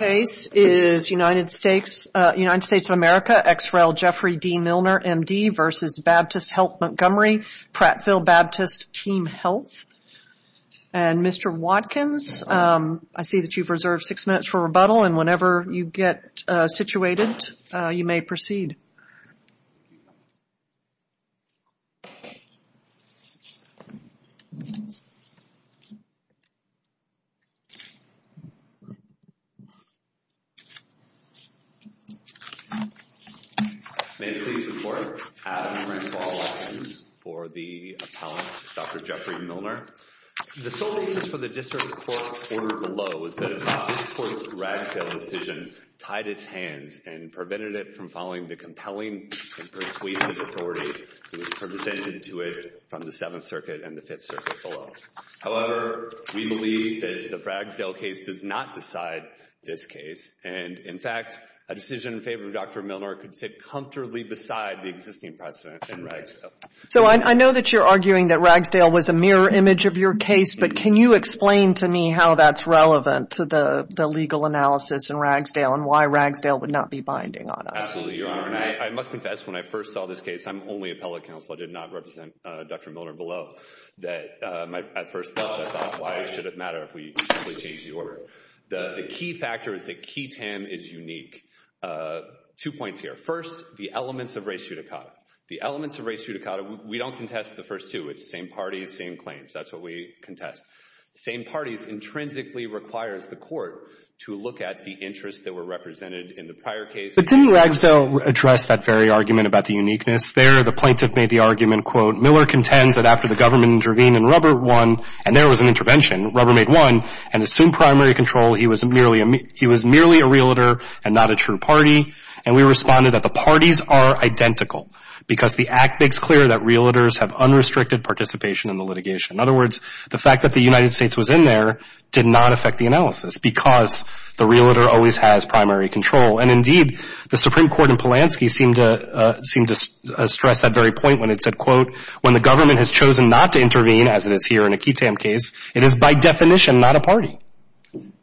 United States of America, XREL Jeffrey D. Milner, M.D. v. Baptist Health Montgomery, Prattville Baptist Team Health. And Mr. Watkins, I see that you've reserved six minutes for rebuttal, and whenever you get situated, you may proceed. May it please the Court, I am here in support of all options for the appellant, Dr. Jeffrey Milner. The sole reason for the District Court's order below is that this Court's Ragsdale decision tied its hands and prevented it from following the compelling and persuasive authority that was presented to it from the Seventh Circuit and the Fifth Circuit below. However, we believe that the Ragsdale case does not decide this case. And, in fact, a decision in favor of Dr. Milner could sit comfortably beside the existing precedent in Ragsdale. So I know that you're arguing that Ragsdale was a mirror image of your case, but can you explain to me how that's relevant to the legal analysis in Ragsdale and why Ragsdale would not be binding on us? Absolutely, Your Honor, and I must confess, when I first saw this case, I'm only appellate counsel. I did not represent Dr. Milner below. At first, I thought, why should it matter if we simply change the order? The key factor is that key tam is unique. Two points here. First, the elements of res judicata. The elements of res judicata, we don't contest the first two. It's same parties, same claims. That's what we contest. Same parties intrinsically requires the Court to look at the interests that were represented in the prior case. But didn't Ragsdale address that very argument about the uniqueness? There, the plaintiff made the argument, quote, Miller contends that after the government intervened in Rubbermaid 1, and there was an intervention, Rubbermaid 1, and assumed primary control, he was merely a realtor and not a true party. And we responded that the parties are identical because the act makes clear that realtors have unrestricted participation in the litigation. In other words, the fact that the United States was in there did not affect the analysis because the realtor always has primary control. And, indeed, the Supreme Court in Polanski seemed to stress that very point when it said, quote, when the government has chosen not to intervene, as it is here in a key tam case, it is by definition not a party.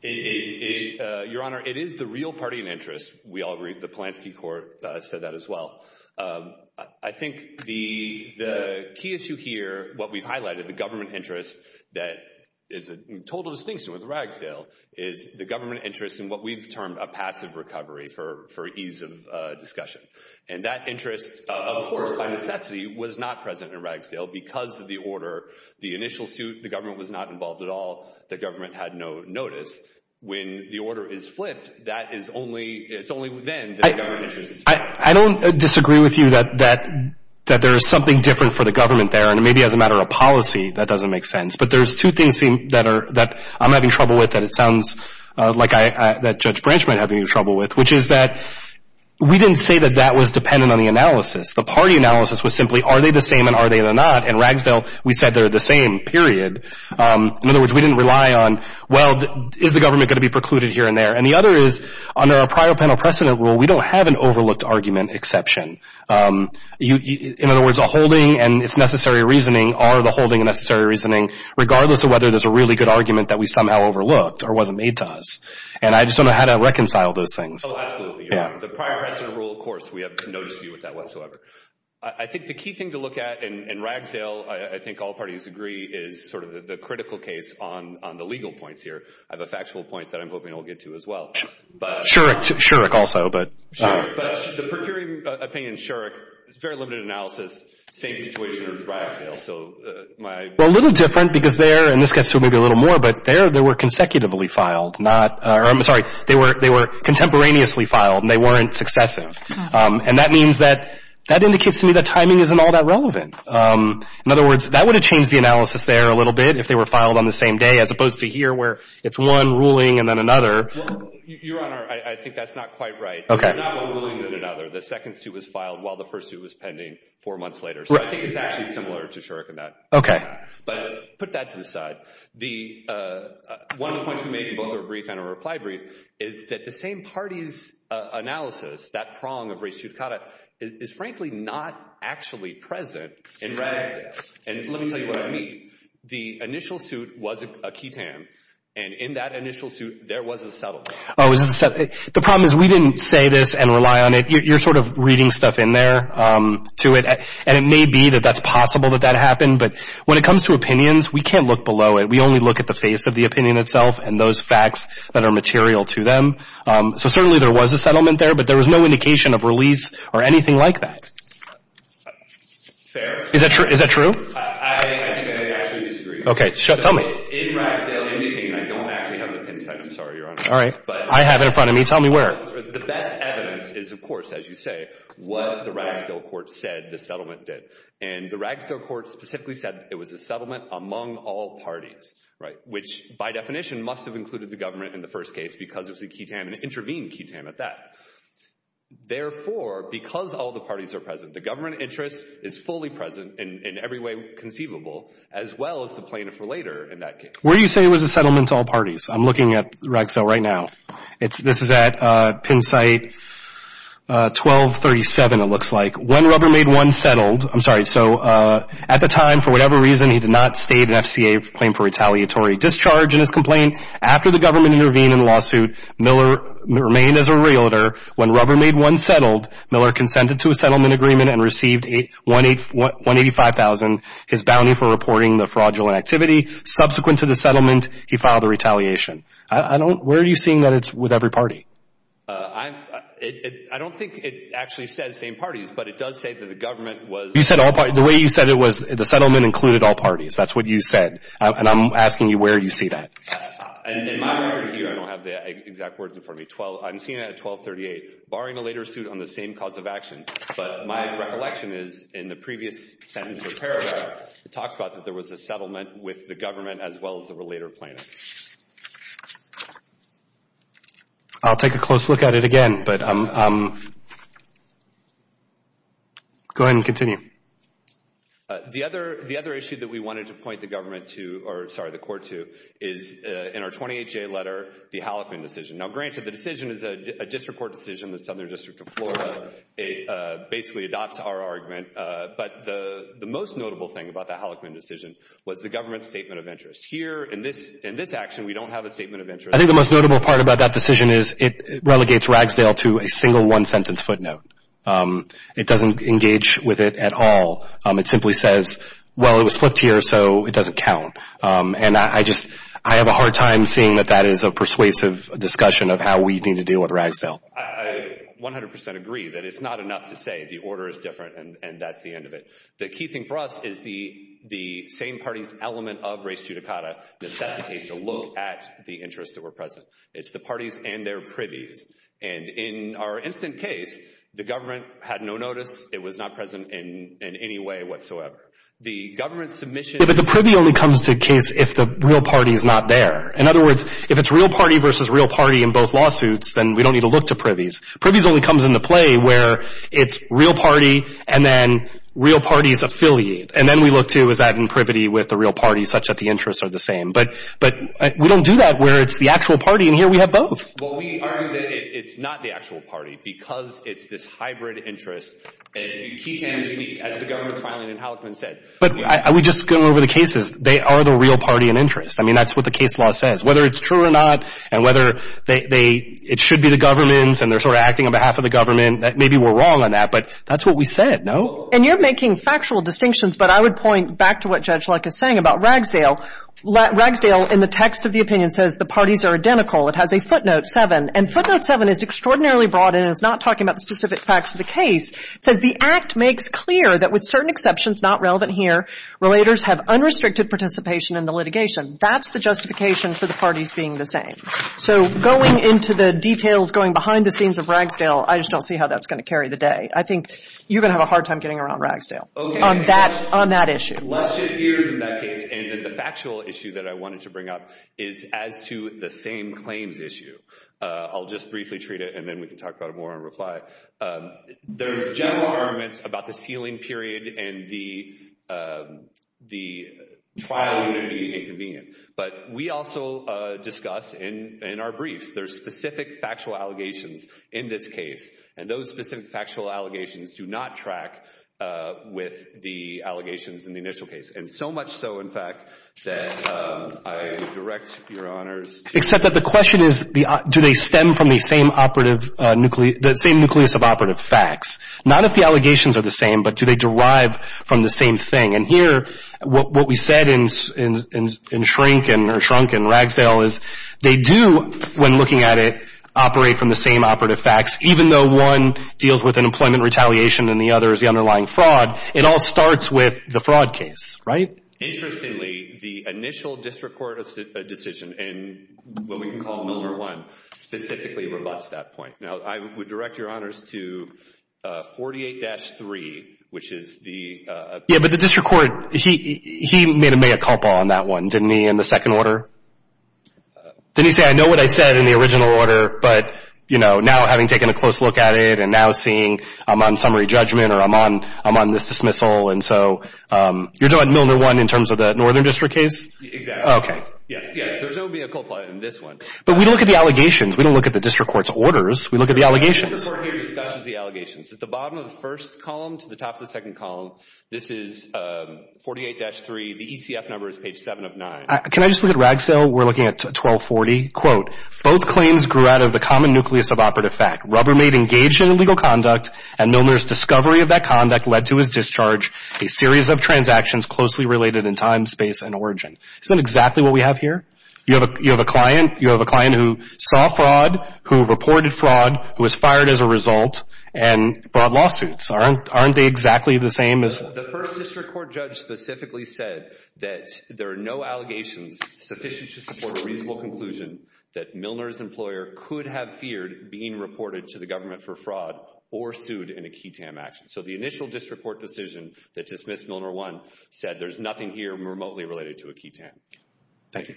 Your Honor, it is the real party in interest. We all agree. The Polanski court said that as well. I think the key issue here, what we've highlighted, the government interest that is a total distinction with Ragsdale is the government interest in what we've termed a passive recovery for ease of discussion. And that interest, of course, by necessity, was not present in Ragsdale because of the order. The initial suit, the government was not involved at all. The government had no notice. When the order is flipped, that is only – it's only then that the government interest is found. I don't disagree with you that there is something different for the government there. And maybe as a matter of policy, that doesn't make sense. But there's two things that I'm having trouble with that it sounds like Judge Branch might have trouble with, which is that we didn't say that that was dependent on the analysis. The party analysis was simply, are they the same and are they not? In Ragsdale, we said they're the same, period. In other words, we didn't rely on, well, is the government going to be precluded here and there? And the other is, under a prior panel precedent rule, we don't have an overlooked argument exception. In other words, a holding and its necessary reasoning are the holding and necessary reasoning, regardless of whether there's a really good argument that we somehow overlooked or wasn't made to us. And I just don't know how to reconcile those things. Oh, absolutely. The prior precedent rule, of course, we have no dispute with that whatsoever. I think the key thing to look at in Ragsdale, I think all parties agree, is sort of the critical case on the legal points here. I have a factual point that I'm hoping I'll get to as well. Shurik, also. But the per curiam opinion, Shurik, it's very limited analysis, same situation as Ragsdale. Well, a little different because there, and this gets to it maybe a little more, but there they were consecutively filed, not, or I'm sorry, they were contemporaneously filed and they weren't successive. And that means that, that indicates to me that timing isn't all that relevant. In other words, that would have changed the analysis there a little bit if they were filed on the same day, as opposed to here where it's one ruling and then another. Your Honor, I think that's not quite right. Okay. It's not one ruling and then another. The second suit was filed while the first suit was pending four months later. So I think it's actually similar to Shurik in that. Okay. But put that to the side. One of the points we made in both our brief and our reply brief is that the same party's analysis, that prong of res judicata, is frankly not actually present in Ragsdale. And let me tell you what I mean. The initial suit was a QI-TAM, and in that initial suit there was a settlement. Oh, it was a settlement. The problem is we didn't say this and rely on it. You're sort of reading stuff in there to it, and it may be that that's possible that that happened. But when it comes to opinions, we can't look below it. We only look at the face of the opinion itself and those facts that are material to them. So certainly there was a settlement there, but there was no indication of release or anything like that. Fair. Is that true? I think that they actually disagree. Okay. Tell me. In Ragsdale, in the opinion, I don't actually have the pencil. I'm sorry, Your Honor. All right. But I have it in front of me. Tell me where. The best evidence is, of course, as you say, what the Ragsdale court said the settlement did. And the Ragsdale court specifically said it was a settlement among all parties, right, which by definition must have included the government in the first case because it was a QI-TAM and it intervened QI-TAM at that. Therefore, because all the parties are present, the government interest is fully present in every way conceivable, as well as the plaintiff for later in that case. Where do you say it was a settlement to all parties? I'm looking at Ragsdale right now. This is at Penn site 1237, it looks like. When Rubbermaid I settled, I'm sorry, so at the time, for whatever reason, he did not state an FCA claim for retaliatory discharge in his complaint. After the government intervened in the lawsuit, Miller remained as a realtor. When Rubbermaid I settled, Miller consented to a settlement agreement and received $185,000, his bounty for reporting the fraudulent activity. Subsequent to the settlement, he filed a retaliation. Where are you seeing that it's with every party? I don't think it actually says same parties, but it does say that the government was... You said all parties. The way you said it was the settlement included all parties. That's what you said. And I'm asking you where you see that. In my record here, I don't have the exact words in front of me, I'm seeing that at 1238, barring a later suit on the same cause of action, but my recollection is in the previous sentence of the paragraph, it talks about that there was a settlement with the government as well as the relator plaintiff. I'll take a close look at it again, but go ahead and continue. The other issue that we wanted to point the government to, or sorry, the court to, is in our 28-J letter, the Halleckman decision. Now, granted, the decision is a district court decision in the Southern District of Florida. It basically adopts our argument, but the most notable thing about the Halleckman decision was the government's statement of interest. Here, in this action, we don't have a statement of interest. I think the most notable part about that decision is it relegates Ragsdale to a single one-sentence footnote. It doesn't engage with it at all. It simply says, well, it was flipped here, so it doesn't count. And I just, I have a hard time seeing that that is a persuasive discussion of how we need to deal with Ragsdale. I 100% agree that it's not enough to say the order is different and that's the end of it. The key thing for us is the same parties element of res judicata necessitates a look at the interests that were present. It's the parties and their privies. And in our instant case, the government had no notice. It was not present in any way whatsoever. The government's submission— But the privy only comes to the case if the real party's not there. In other words, if it's real party versus real party in both lawsuits, then we don't need to look to privies. Privies only comes into play where it's real party and then real party's affiliate. And then we look to, is that in privity with the real party, such that the interests are the same. But we don't do that where it's the actual party, and here we have both. Well, we argue that it's not the actual party because it's this hybrid interest. And as the government's filing and Hallickman said— But I would just go over the cases. They are the real party and interest. I mean, that's what the case law says. Whether it's true or not and whether it should be the government's and they're sort of acting on behalf of the government, maybe we're wrong on that, but that's what we said, no? And you're making factual distinctions, but I would point back to what Judge Luck is saying about Ragsdale. Ragsdale, in the text of the opinion, says the parties are identical. It has a footnote 7, and footnote 7 is extraordinarily broad and it's not talking about the specific facts of the case. It says the act makes clear that with certain exceptions not relevant here, relators have unrestricted participation in the litigation. That's the justification for the parties being the same. So going into the details, going behind the scenes of Ragsdale, I just don't see how that's going to carry the day. I think you're going to have a hard time getting around Ragsdale on that issue. Let's shift gears in that case and then the factual issue that I wanted to bring up is as to the same claims issue. I'll just briefly treat it and then we can talk about it more in reply. There's general arguments about the sealing period and the trial being inconvenient, but we also discuss in our briefs there's specific factual allegations in this case, and those specific factual allegations do not track with the allegations in the initial case, and so much so, in fact, that I direct your honors to- Except that the question is do they stem from the same nucleus of operative facts? Not if the allegations are the same, but do they derive from the same thing? And here what we said in Shrunk and Ragsdale is they do, when looking at it, operate from the same operative facts, even though one deals with unemployment retaliation and the other is the underlying fraud, it all starts with the fraud case, right? Interestingly, the initial district court decision, and what we can call number one, specifically rebutts that point. Now, I would direct your honors to 48-3, which is the- Yeah, but the district court, he made a mea culpa on that one, didn't he, in the second order? Didn't he say, I know what I said in the original order, but now having taken a close look at it and now seeing I'm on summary judgment or I'm on this dismissal, and so you're talking about Milner 1 in terms of the northern district case? Exactly. Okay. Yes, there's no mea culpa in this one. But we look at the allegations. We don't look at the district court's orders. We look at the allegations. The district court here discusses the allegations. At the bottom of the first column to the top of the second column, this is 48-3. The ECF number is page 7 of 9. Can I just look at Ragsdale? We're looking at 1240. Quote, both claims grew out of the common nucleus of operative fact. Rubbermaid engaged in illegal conduct, and Milner's discovery of that conduct led to his discharge, a series of transactions closely related in time, space, and origin. Isn't that exactly what we have here? You have a client who saw fraud, who reported fraud, who was fired as a result, and brought lawsuits. Aren't they exactly the same as- The first district court judge specifically said that there are no allegations sufficient to support a reasonable conclusion that Milner's employer could have feared being reported to the government for fraud or sued in a key TAM action. So the initial district court decision that dismissed Milner 1 said there's nothing here remotely related to a key TAM. Thank you.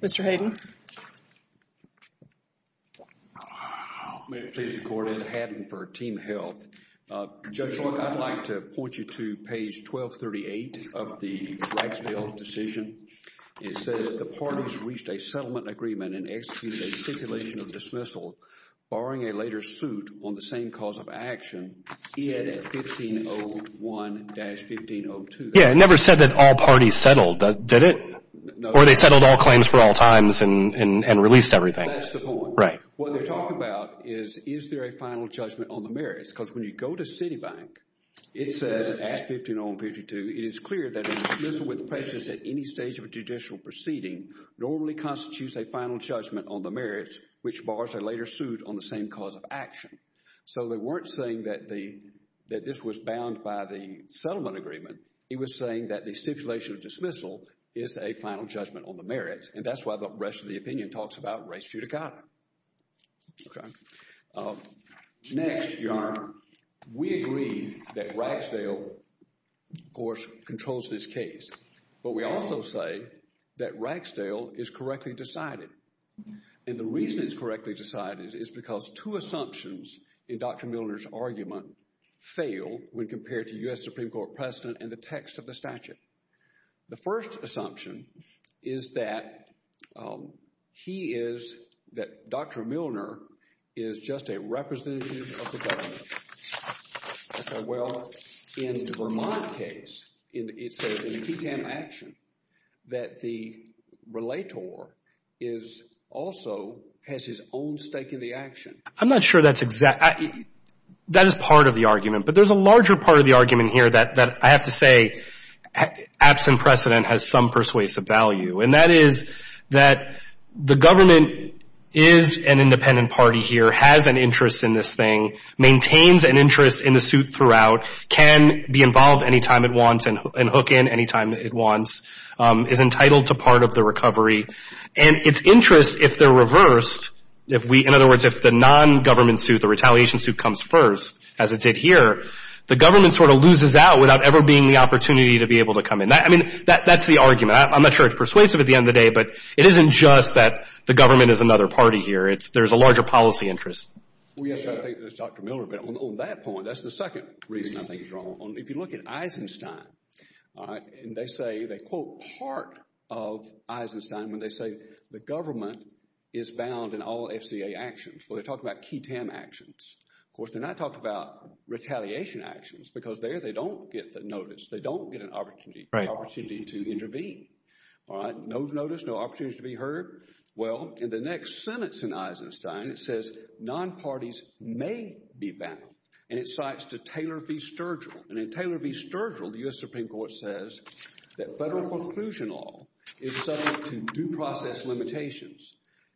Mr. Hayden. May it please the court, Adam Hayden for Team Health. Judge, I'd like to point you to page 1238 of the Ragsdale decision. It says the parties reached a settlement agreement and executed a stipulation of dismissal, barring a later suit on the same cause of action in 1501-1502. Yeah, it never said that all parties settled, did it? No. Or they settled all claims for all times and released everything. That's the point. Right. What they're talking about is, is there a final judgment on the merits? Because when you go to Citibank, it says at 1501-1502, it is clear that a dismissal with patience at any stage of a judicial proceeding normally constitutes a final judgment on the merits, which bars a later suit on the same cause of action. So they weren't saying that this was bound by the settlement agreement. It was saying that the stipulation of dismissal is a final judgment on the merits, and that's why the rest of the opinion talks about res judicata. Next, Your Honor, we agree that Ragsdale, of course, controls this case. But we also say that Ragsdale is correctly decided. And the reason it's correctly decided is because two assumptions in Dr. Milner's argument fail when compared to U.S. Supreme Court precedent and the text of the statute. The first assumption is that he is, that Dr. Milner is just a representative of the government. Well, in Vermont's case, it says in the TTAM action that the relator also has his own stake in the action. I'm not sure that's exact. That is part of the argument. But there's a larger part of the argument here that I have to say absent precedent has some persuasive value. And that is that the government is an independent party here, has an interest in this thing, maintains an interest in the suit throughout, can be involved any time it wants and hook in any time it wants, is entitled to part of the recovery. And its interest, if they're reversed, if we, in other words, if the nongovernment suit, the retaliation suit comes first, as it did here, the government sort of loses out without ever being the opportunity to be able to come in. I mean, that's the argument. I'm not sure it's persuasive at the end of the day, but it isn't just that the government is another party here. There's a larger policy interest. Well, yes, I think that's Dr. Milner. But on that point, that's the second reason I think he's wrong. If you look at Eisenstein, and they say, they quote part of Eisenstein when they say the government is bound in all FCA actions. Well, they talk about key TAM actions. Of course, they're not talking about retaliation actions because there they don't get the notice. They don't get an opportunity to intervene. All right. No notice, no opportunity to be heard. Well, in the next sentence in Eisenstein, it says non-parties may be bound. And it cites to Taylor v. Sturgill. And in Taylor v. Sturgill, the U.S. Supreme Court says that federal conclusion law is subject to due process limitations.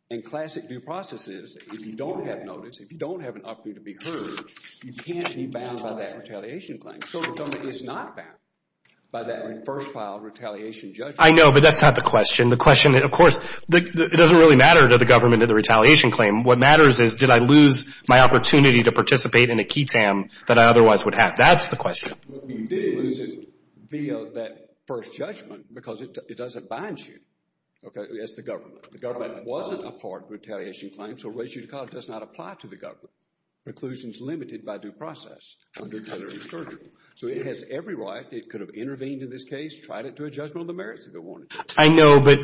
And classic due process is if you don't have notice, if you don't have an opportunity to be heard, you can't be bound by that retaliation claim. So the government is not bound by that first file retaliation judgment. I know, but that's not the question. The question, of course, it doesn't really matter to the government in the retaliation claim. What matters is did I lose my opportunity to participate in a key TAM that I otherwise would have. That's the question. You did lose it via that first judgment because it doesn't bind you. Okay, that's the government. The government wasn't a part of the retaliation claim, so res judicata does not apply to the government. Conclusion is limited by due process under Taylor v. Sturgill. So it has every right, it could have intervened in this case, tried it to a judgment of the merits if it wanted to. I know, but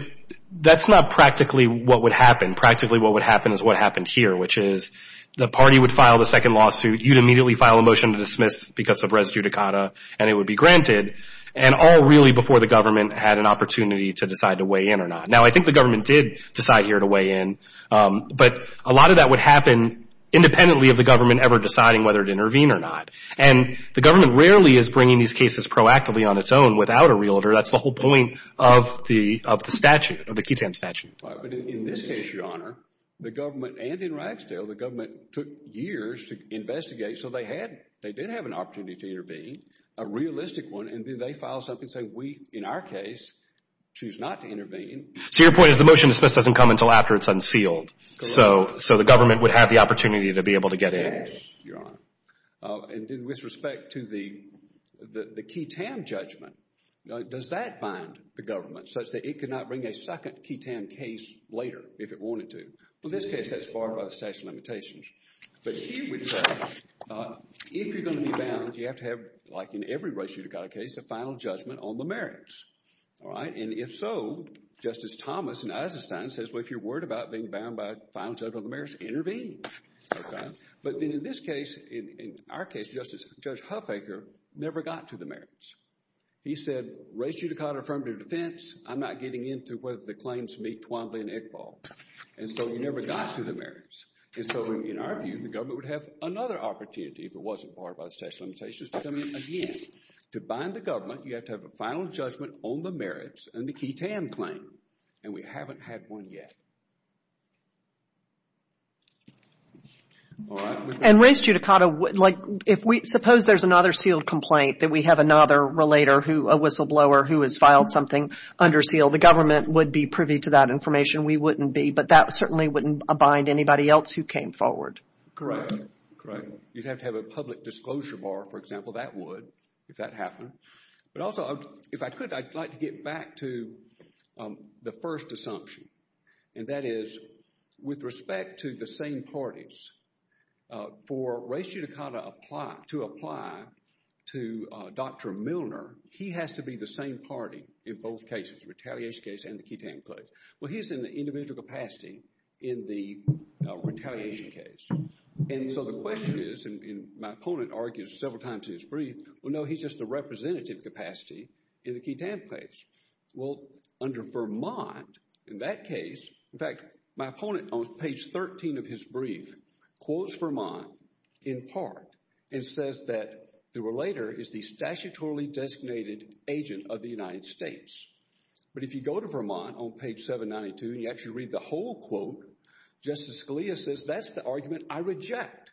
that's not practically what would happen. Practically what would happen is what happened here, which is the party would file the second lawsuit. You'd immediately file a motion to dismiss because of res judicata, and it would be granted. And all really before the government had an opportunity to decide to weigh in or not. Now, I think the government did decide here to weigh in, but a lot of that would happen independently of the government ever deciding whether to intervene or not. And the government rarely is bringing these cases proactively on its own without a realtor. That's the whole point of the statute, of the key TAM statute. Right, but in this case, Your Honor, the government and in Ragsdale, the government took years to investigate, so they did have an opportunity to intervene, a realistic one, and then they file something and say, we, in our case, choose not to intervene. So your point is the motion to dismiss doesn't come until after it's unsealed. So the government would have the opportunity to be able to get in. Yes, Your Honor. And with respect to the key TAM judgment, does that bind the government such that it could not bring a second key TAM case later if it wanted to? Well, in this case, that's barred by the statute of limitations. But here we say, if you're going to be bound, you have to have, like in every race judicata case, a final judgment on the merits. All right, and if so, Justice Thomas in Eisenstein says, well, if you're worried about being bound by a final judgment on the merits, intervene. But then in this case, in our case, Justice, Judge Huffaker never got to the merits. He said, race judicata affirmative defense, I'm not getting into whether the claims meet Twyla and Iqbal. And so he never got to the merits. And so in our view, the government would have another opportunity if it wasn't barred by the statute of limitations. But I mean, again, to bind the government, you have to have a final judgment on the merits and the key TAM claim. And we haven't had one yet. And race judicata, like if we, suppose there's another sealed complaint that we have another relator who, a whistleblower who has filed something under seal, the government would be privy to that information. We wouldn't be. But that certainly wouldn't bind anybody else who came forward. Correct. Correct. You'd have to have a public disclosure bar, for example, that would, if that happened. But also, if I could, I'd like to get back to the first assumption. And that is, with respect to the same parties, for race judicata to apply to Dr. Milner, he has to be the same party in both cases, the retaliation case and the key TAM case. Well, he's in the individual capacity in the retaliation case. And so the question is, and my opponent argues several times in his brief, well, no, he's just the representative capacity in the key TAM case. Well, under Vermont, in that case, in fact, my opponent on page 13 of his brief quotes Vermont in part and says that the relator is the statutorily designated agent of the United States. But if you go to Vermont on page 792 and you actually read the whole quote, Justice Scalia says that's the argument I reject.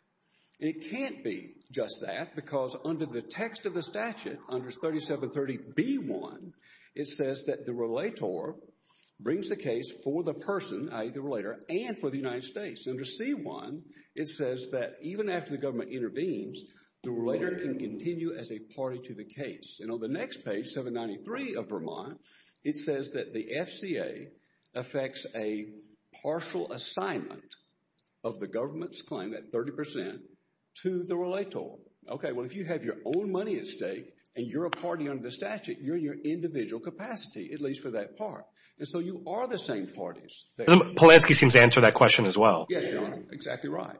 And it can't be just that because under the text of the statute, under 3730B1, it says that the relator brings the case for the person, i.e., the relator, and for the United States. Under C1, it says that even after the government intervenes, the relator can continue as a party to the case. And on the next page, 793 of Vermont, it says that the FCA affects a partial assignment of the government's claim, that 30 percent, to the relator. Okay, well, if you have your own money at stake and you're a party under the statute, you're in your individual capacity, at least for that part. And so you are the same parties. Polanski seems to answer that question as well. Yes, Your Honor, exactly right.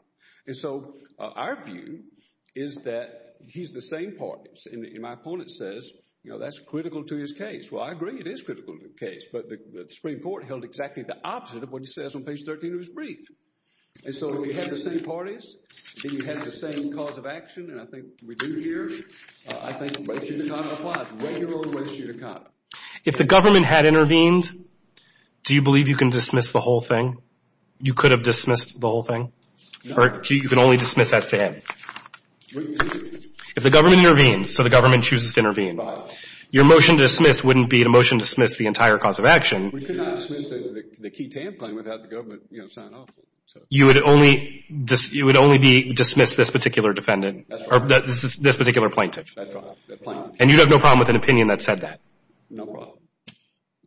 And so our view is that he's the same parties. And my opponent says, you know, that's critical to his case. Well, I agree it is critical to the case. But the Supreme Court held exactly the opposite of what he says on page 13 of his brief. And so we have the same parties. We have the same cause of action. And I think we do here. I think the Western Unicom applies, regular Western Unicom. If the government had intervened, do you believe you can dismiss the whole thing? You could have dismissed the whole thing? Or you can only dismiss S.T.A.M.? If the government intervened, so the government chooses to intervene, your motion to dismiss wouldn't be a motion to dismiss the entire cause of action. We could have dismissed the key TAM claim without the government, you know, signing off. You would only be dismissed this particular defendant? That's right. Or this particular plaintiff? That's right. And you'd have no problem with an opinion that said that? No problem.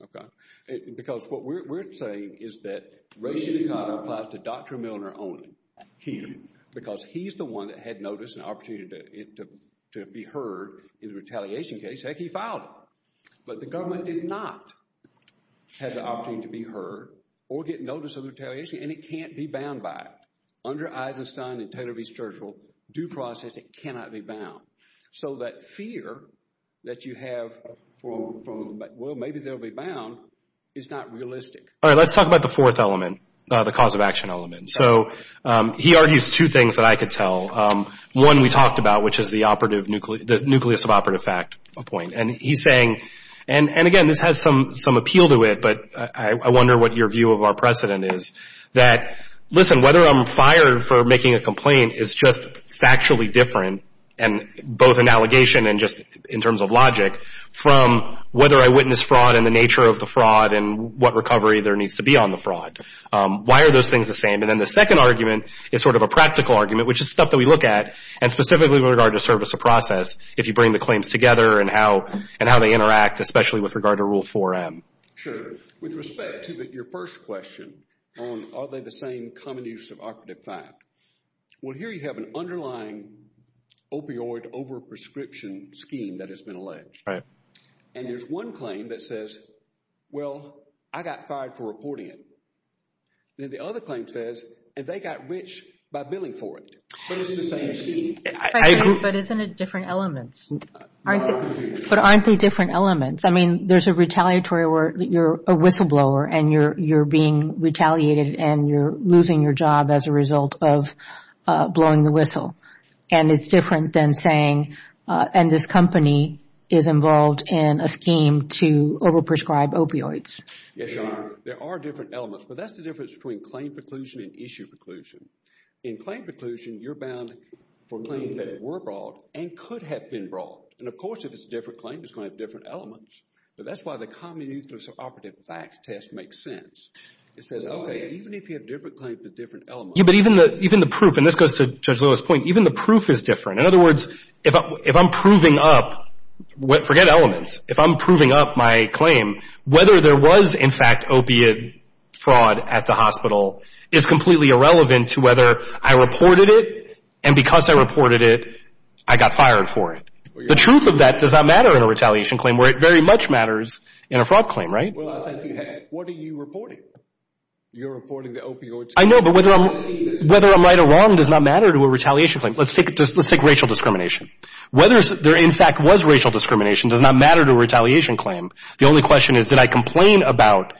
Okay. Because what we're saying is that Rachel Dikotter applies to Dr. Milner only here because he's the one that had notice and opportunity to be heard in the retaliation case. Heck, he filed it. But the government did not have the opportunity to be heard or get notice of retaliation, and it can't be bound by it. Under Eisenstein and Taylor v. Churchill, due process, it cannot be bound. So that fear that you have, well, maybe they'll be bound, is not realistic. All right. Let's talk about the fourth element, the cause of action element. So he argues two things that I could tell. One we talked about, which is the nucleus of operative fact point. And he's saying, and, again, this has some appeal to it, but I wonder what your view of our precedent is, that, listen, whether I'm fired for making a complaint is just factually different, both in allegation and just in terms of logic, from whether I witnessed fraud and the nature of the fraud and what recovery there needs to be on the fraud. Why are those things the same? And then the second argument is sort of a practical argument, which is stuff that we look at, and specifically with regard to service of process, if you bring the claims together and how they interact, especially with regard to Rule 4M. Sure. With respect to your first question on are they the same common use of operative fact, well, here you have an underlying opioid overprescription scheme that has been alleged. Right. And there's one claim that says, well, I got fired for reporting it. Then the other claim says, and they got rich by billing for it. But it's the same scheme. I agree. But isn't it different elements? But aren't they different elements? I mean, there's a retaliatory where you're a whistleblower and you're being retaliated and you're losing your job as a result of blowing the whistle. And it's different than saying, and this company is involved in a scheme to overprescribe opioids. Yes, Your Honor. There are different elements. But that's the difference between claim preclusion and issue preclusion. In claim preclusion, you're bound for claims that were brought and could have been brought. And of course, if it's a different claim, it's going to have different elements. But that's why the common use of operative fact test makes sense. It says, okay, even if you have different claims with different elements. Yeah, but even the proof, and this goes to Judge Lewis' point, even the proof is different. In other words, if I'm proving up, forget elements. If I'm proving up my claim, whether there was, in fact, opiate fraud at the hospital is completely irrelevant to whether I reported it. And because I reported it, I got fired for it. The truth of that does not matter in a retaliation claim where it very much matters in a fraud claim, right? Well, I think you have. What are you reporting? You're reporting the opioids. I know, but whether I'm right or wrong does not matter to a retaliation claim. Let's take racial discrimination. Whether there, in fact, was racial discrimination does not matter to a retaliation claim. The only question is, did I complain about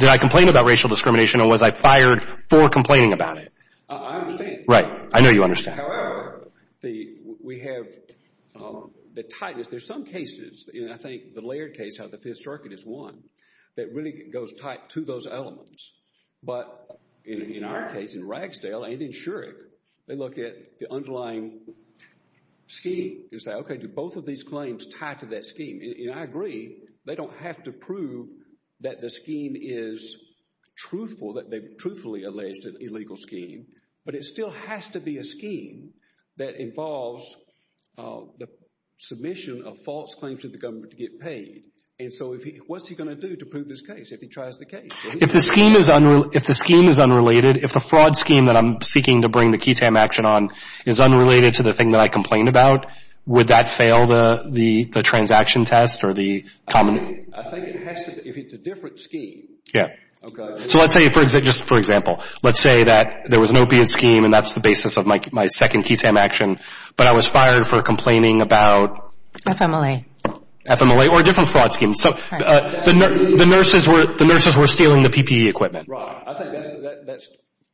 racial discrimination or was I fired for complaining about it? I understand. Right. I know you understand. However, we have the tightness. There's some cases, and I think the Laird case, how the Fifth Circuit is one, that really goes tight to those elements. But in our case, in Ragsdale and in Shurik, they look at the underlying scheme and say, okay, do both of these claims tie to that scheme? And I agree. They don't have to prove that the scheme is truthful, that they've truthfully alleged an illegal scheme. But it still has to be a scheme that involves the submission of false claims to the government to get paid. And so what's he going to do to prove this case if he tries the case? If the scheme is unrelated, if the fraud scheme that I'm seeking to bring the QUTAM action on is unrelated to the thing that I complained about, would that fail the transaction test or the common? I think it has to be, if it's a different scheme. Yeah. Okay. So let's say, just for example, let's say that there was an opiate scheme, and that's the basis of my second QUTAM action, but I was fired for complaining about? FMLA. FMLA, or a different fraud scheme. The nurses were stealing the PPE equipment. Right. I think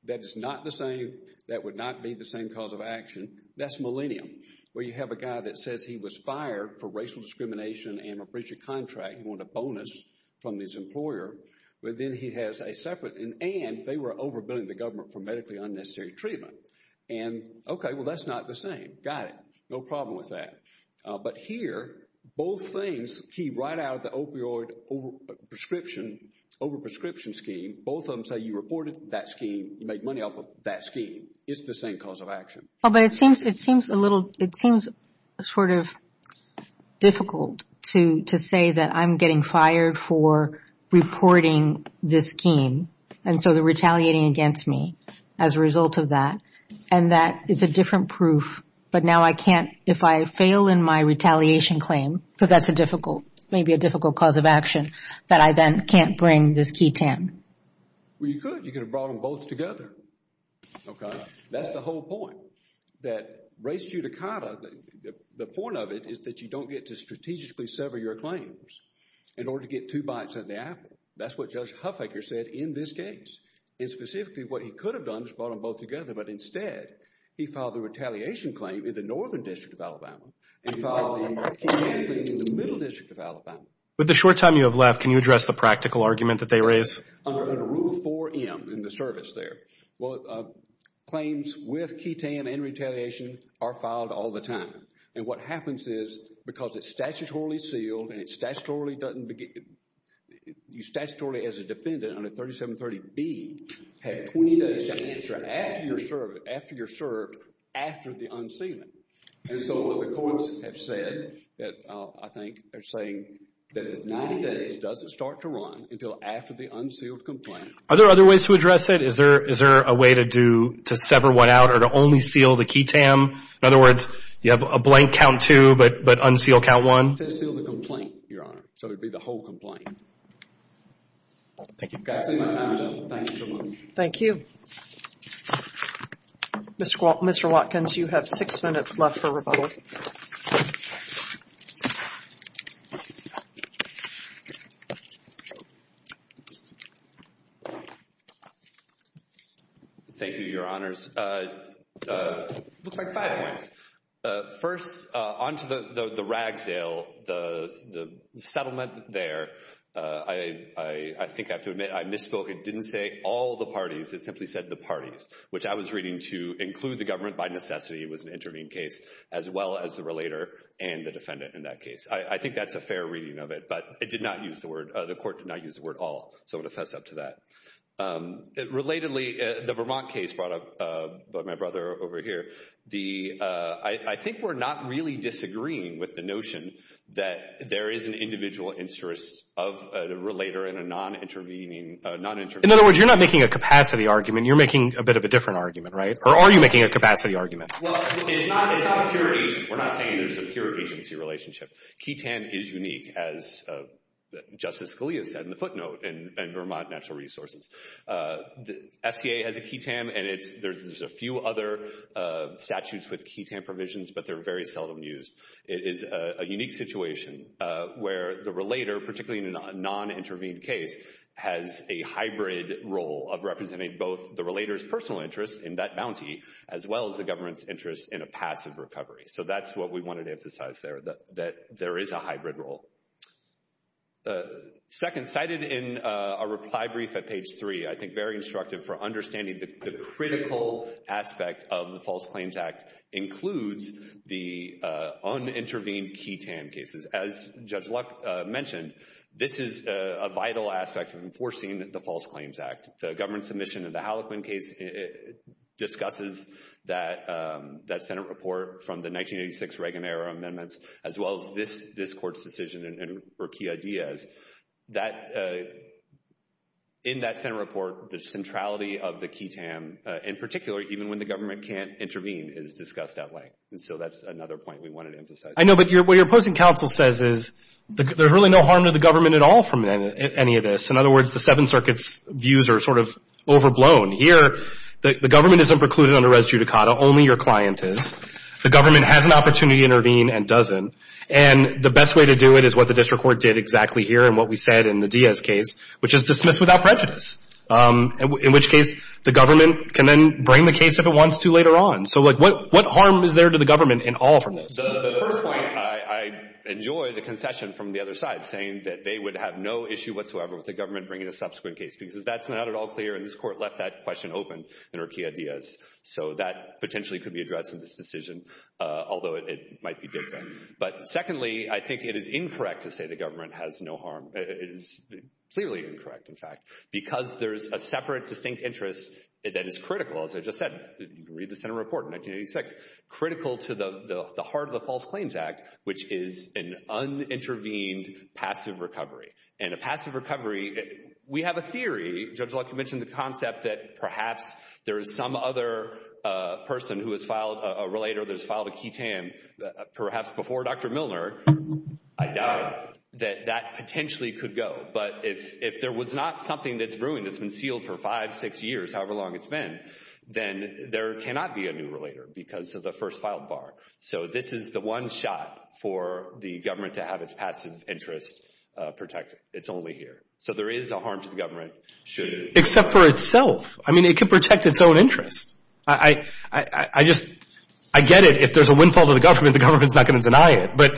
that is not the same, that would not be the same cause of action. That's millennium, where you have a guy that says he was fired for racial discrimination and a breach of contract, he wanted a bonus from his employer, but then he has a separate, and they were overbilling the government for medically unnecessary treatment. And okay, well that's not the same. Got it. No problem with that. But here, both things key right out of the opioid prescription, overprescription scheme, both of them say you reported that scheme, you made money off of that scheme. It's the same cause of action. Well, but it seems a little, it seems sort of difficult to say that I'm getting fired for reporting this scheme, and so they're retaliating against me as a result of that. And that is a different proof, but now I can't, if I fail in my retaliation claim, because that's a difficult, maybe a difficult cause of action, that I then can't bring this QUTAM. Well, you could. You could have brought them both together. Okay. That's the whole point. That race judicata, the point of it is that you don't get to strategically sever your claims in order to get two bites out of the apple. That's what Judge Huffaker said in this case. And specifically what he could have done is brought them both together, but instead he filed the retaliation claim in the northern district of Alabama, and he filed the retaliation claim in the middle district of Alabama. With the short time you have left, can you address the practical argument that they raise? Under Rule 4M in the service there, claims with QUTAM and retaliation are filed all the time. And what happens is, because it's statutorily sealed, and it's statutorily as a defendant under 3730B, have 20 days to answer after you're served after the unsealing. And so the courts have said, I think they're saying, that 90 days doesn't start to run until after the unsealed complaint. Are there other ways to address it? Is there a way to do, to sever one out or to only seal the QUTAM? In other words, you have a blank count two, but unseal count one? To seal the complaint, Your Honor. So it would be the whole complaint. Thank you. That's it. My time is up. Thank you so much. Thank you. Mr. Watkins, you have six minutes left for rebuttal. Thank you, Your Honors. Looks like five points. First, on to the Ragsdale, the settlement there. I think I have to admit, I misspoke. It didn't say all the parties. It simply said the parties, which I was reading to include the government by necessity. It was an intervening case, as well as the relator and the defendant in that case. I think that's a fair reading of it, but it did not use the word, the court did not use the word all. So I'm going to fess up to that. Relatedly, the Vermont case brought up by my brother over here, I think we're not really disagreeing with the notion that there is an individual interest of a relator and a non-intervening. In other words, you're not making a capacity argument. You're making a bit of a different argument, right? Or are you making a capacity argument? Well, it's not a pure agency. We're not saying there's a pure agency relationship. Key TAN is unique, as Justice Scalia said in the footnote in Vermont Natural Resources. The SCA has a Key TAN, and there's a few other statutes with Key TAN provisions, but they're very seldom used. It is a unique situation where the relator, particularly in a non-intervened case, has a hybrid role of representing both the relator's personal interest in that bounty, as well as the government's interest in a passive recovery. So that's what we wanted to emphasize there, that there is a hybrid role. Second, cited in a reply brief at page 3, I think very instructive for understanding the critical aspect of the False Claims Act includes the unintervened Key TAN cases. As Judge Luck mentioned, this is a vital aspect of enforcing the False Claims Act. The government submission of the Hallequin case discusses that Senate report from the 1986 Reagan-era amendments, as well as this Court's decision for Key ideas. In that Senate report, the centrality of the Key TAN, in particular, even when the government can't intervene, is discussed at length. And so that's another point we wanted to emphasize. I know, but what your opposing counsel says is there's really no harm to the government at all from any of this. In other words, the Seventh Circuit's views are sort of overblown. Here, the government isn't precluded under res judicata. Only your client is. The government has an opportunity to intervene and doesn't. And the best way to do it is what the district court did exactly here and what we said in the Diaz case, which is dismiss without prejudice, in which case the government can then bring the case if it wants to later on. So, like, what harm is there to the government in all from this? The first point, I enjoy the concession from the other side saying that they would have no issue whatsoever with the government bringing a subsequent case because that's not at all clear, and this Court left that question open in our Key Ideas. So that potentially could be addressed in this decision, although it might be dicta. But secondly, I think it is incorrect to say the government has no harm. It is clearly incorrect, in fact, because there's a separate distinct interest that is critical, as I just said. You can read the Senate report in 1986, critical to the heart of the False Claims Act, which is an unintervened passive recovery. And a passive recovery, we have a theory, Judge Luck, you mentioned the concept that perhaps there is some other person who has filed, a relator that has filed a key tam, perhaps before Dr. Milner, I doubt that that potentially could go. But if there was not something that's ruined that's been sealed for five, six years, however long it's been, then there cannot be a new relator because of the first filed bar. So this is the one shot for the government to have its passive interest protected. It's only here. So there is a harm to the government. Except for itself. I mean, it can protect its own interest. I just, I get it. If there's a windfall to the government, the government's not going to deny it. But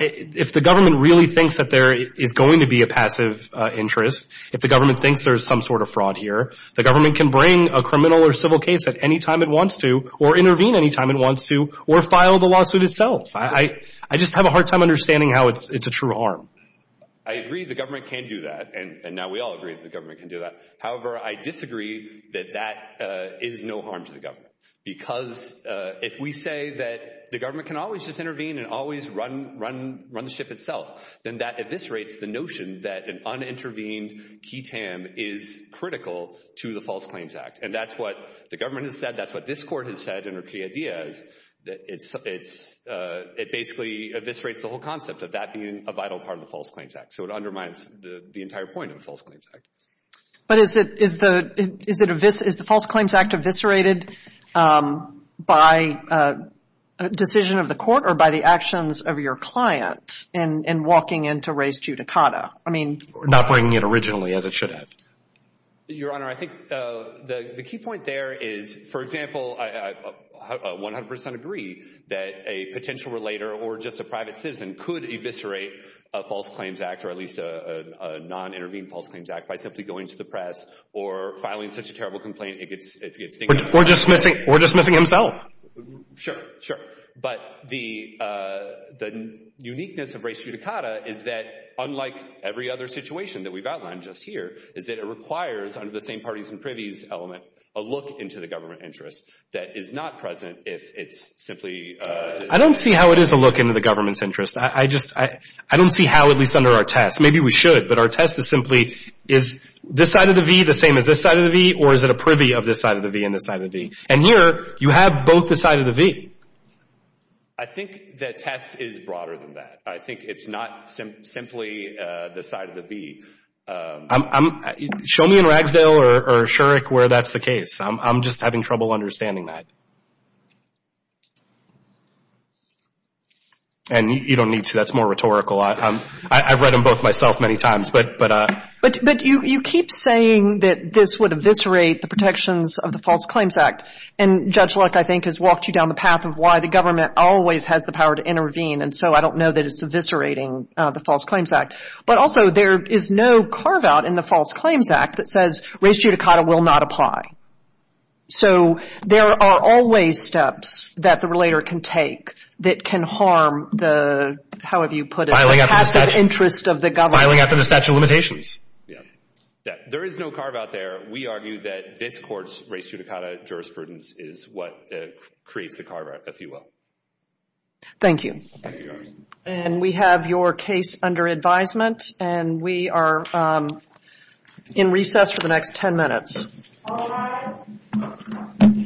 if the government really thinks that there is going to be a passive interest, if the government thinks there's some sort of fraud here, the government can bring a criminal or civil case at any time it wants to, or intervene any time it wants to, or file the lawsuit itself. I just have a hard time understanding how it's a true harm. I agree the government can do that. And now we all agree that the government can do that. However, I disagree that that is no harm to the government. Because if we say that the government can always just intervene and always run the ship itself, then that eviscerates the notion that an unintervened key TAM is critical to the False Claims Act. And that's what the government has said. That's what this Court has said in her key ideas. It basically eviscerates the whole concept of that being a vital part of the False Claims Act. So it undermines the entire point of the False Claims Act. But is the False Claims Act eviscerated by a decision of the court or by the actions of your client in walking into res judicata? Not bringing it originally, as it should have. Your Honor, I think the key point there is, for example, I 100 percent agree that a potential relator or just a private citizen could eviscerate a False Claims Act or at least a non-intervened False Claims Act by simply going to the press or filing such a terrible complaint. Or dismissing himself. Sure, sure. But the uniqueness of res judicata is that, unlike every other situation that we've outlined just here, is that it requires, under the same parties and privies element, a look into the government interest that is not present if it's simply... I don't see how it is a look into the government's interest. I don't see how, at least under our test. Maybe we should, but our test is simply, is this side of the V the same as this side of the V or is it a privy of this side of the V and this side of the V? And here, you have both the side of the V. I think the test is broader than that. I think it's not simply the side of the V. Show me in Ragsdale or Shurik where that's the case. I'm just having trouble understanding that. And you don't need to. That's more rhetorical. I've read them both myself many times. But you keep saying that this would eviscerate the protections of the False Claims Act. And Judge Luck, I think, has walked you down the path of why the government always has the power to intervene. And so I don't know that it's eviscerating the False Claims Act. But also, there is no carve-out in the False Claims Act that says res judicata will not apply. So there are always steps that the relator can take that can harm the, how have you put it, passive interest of the government. Filing after the statute of limitations. There is no carve-out there. We argue that this Court's res judicata jurisprudence is what creates the carve-out, if you will. Thank you. And we have your case under advisement. And we are in recess for the next ten minutes. All rise.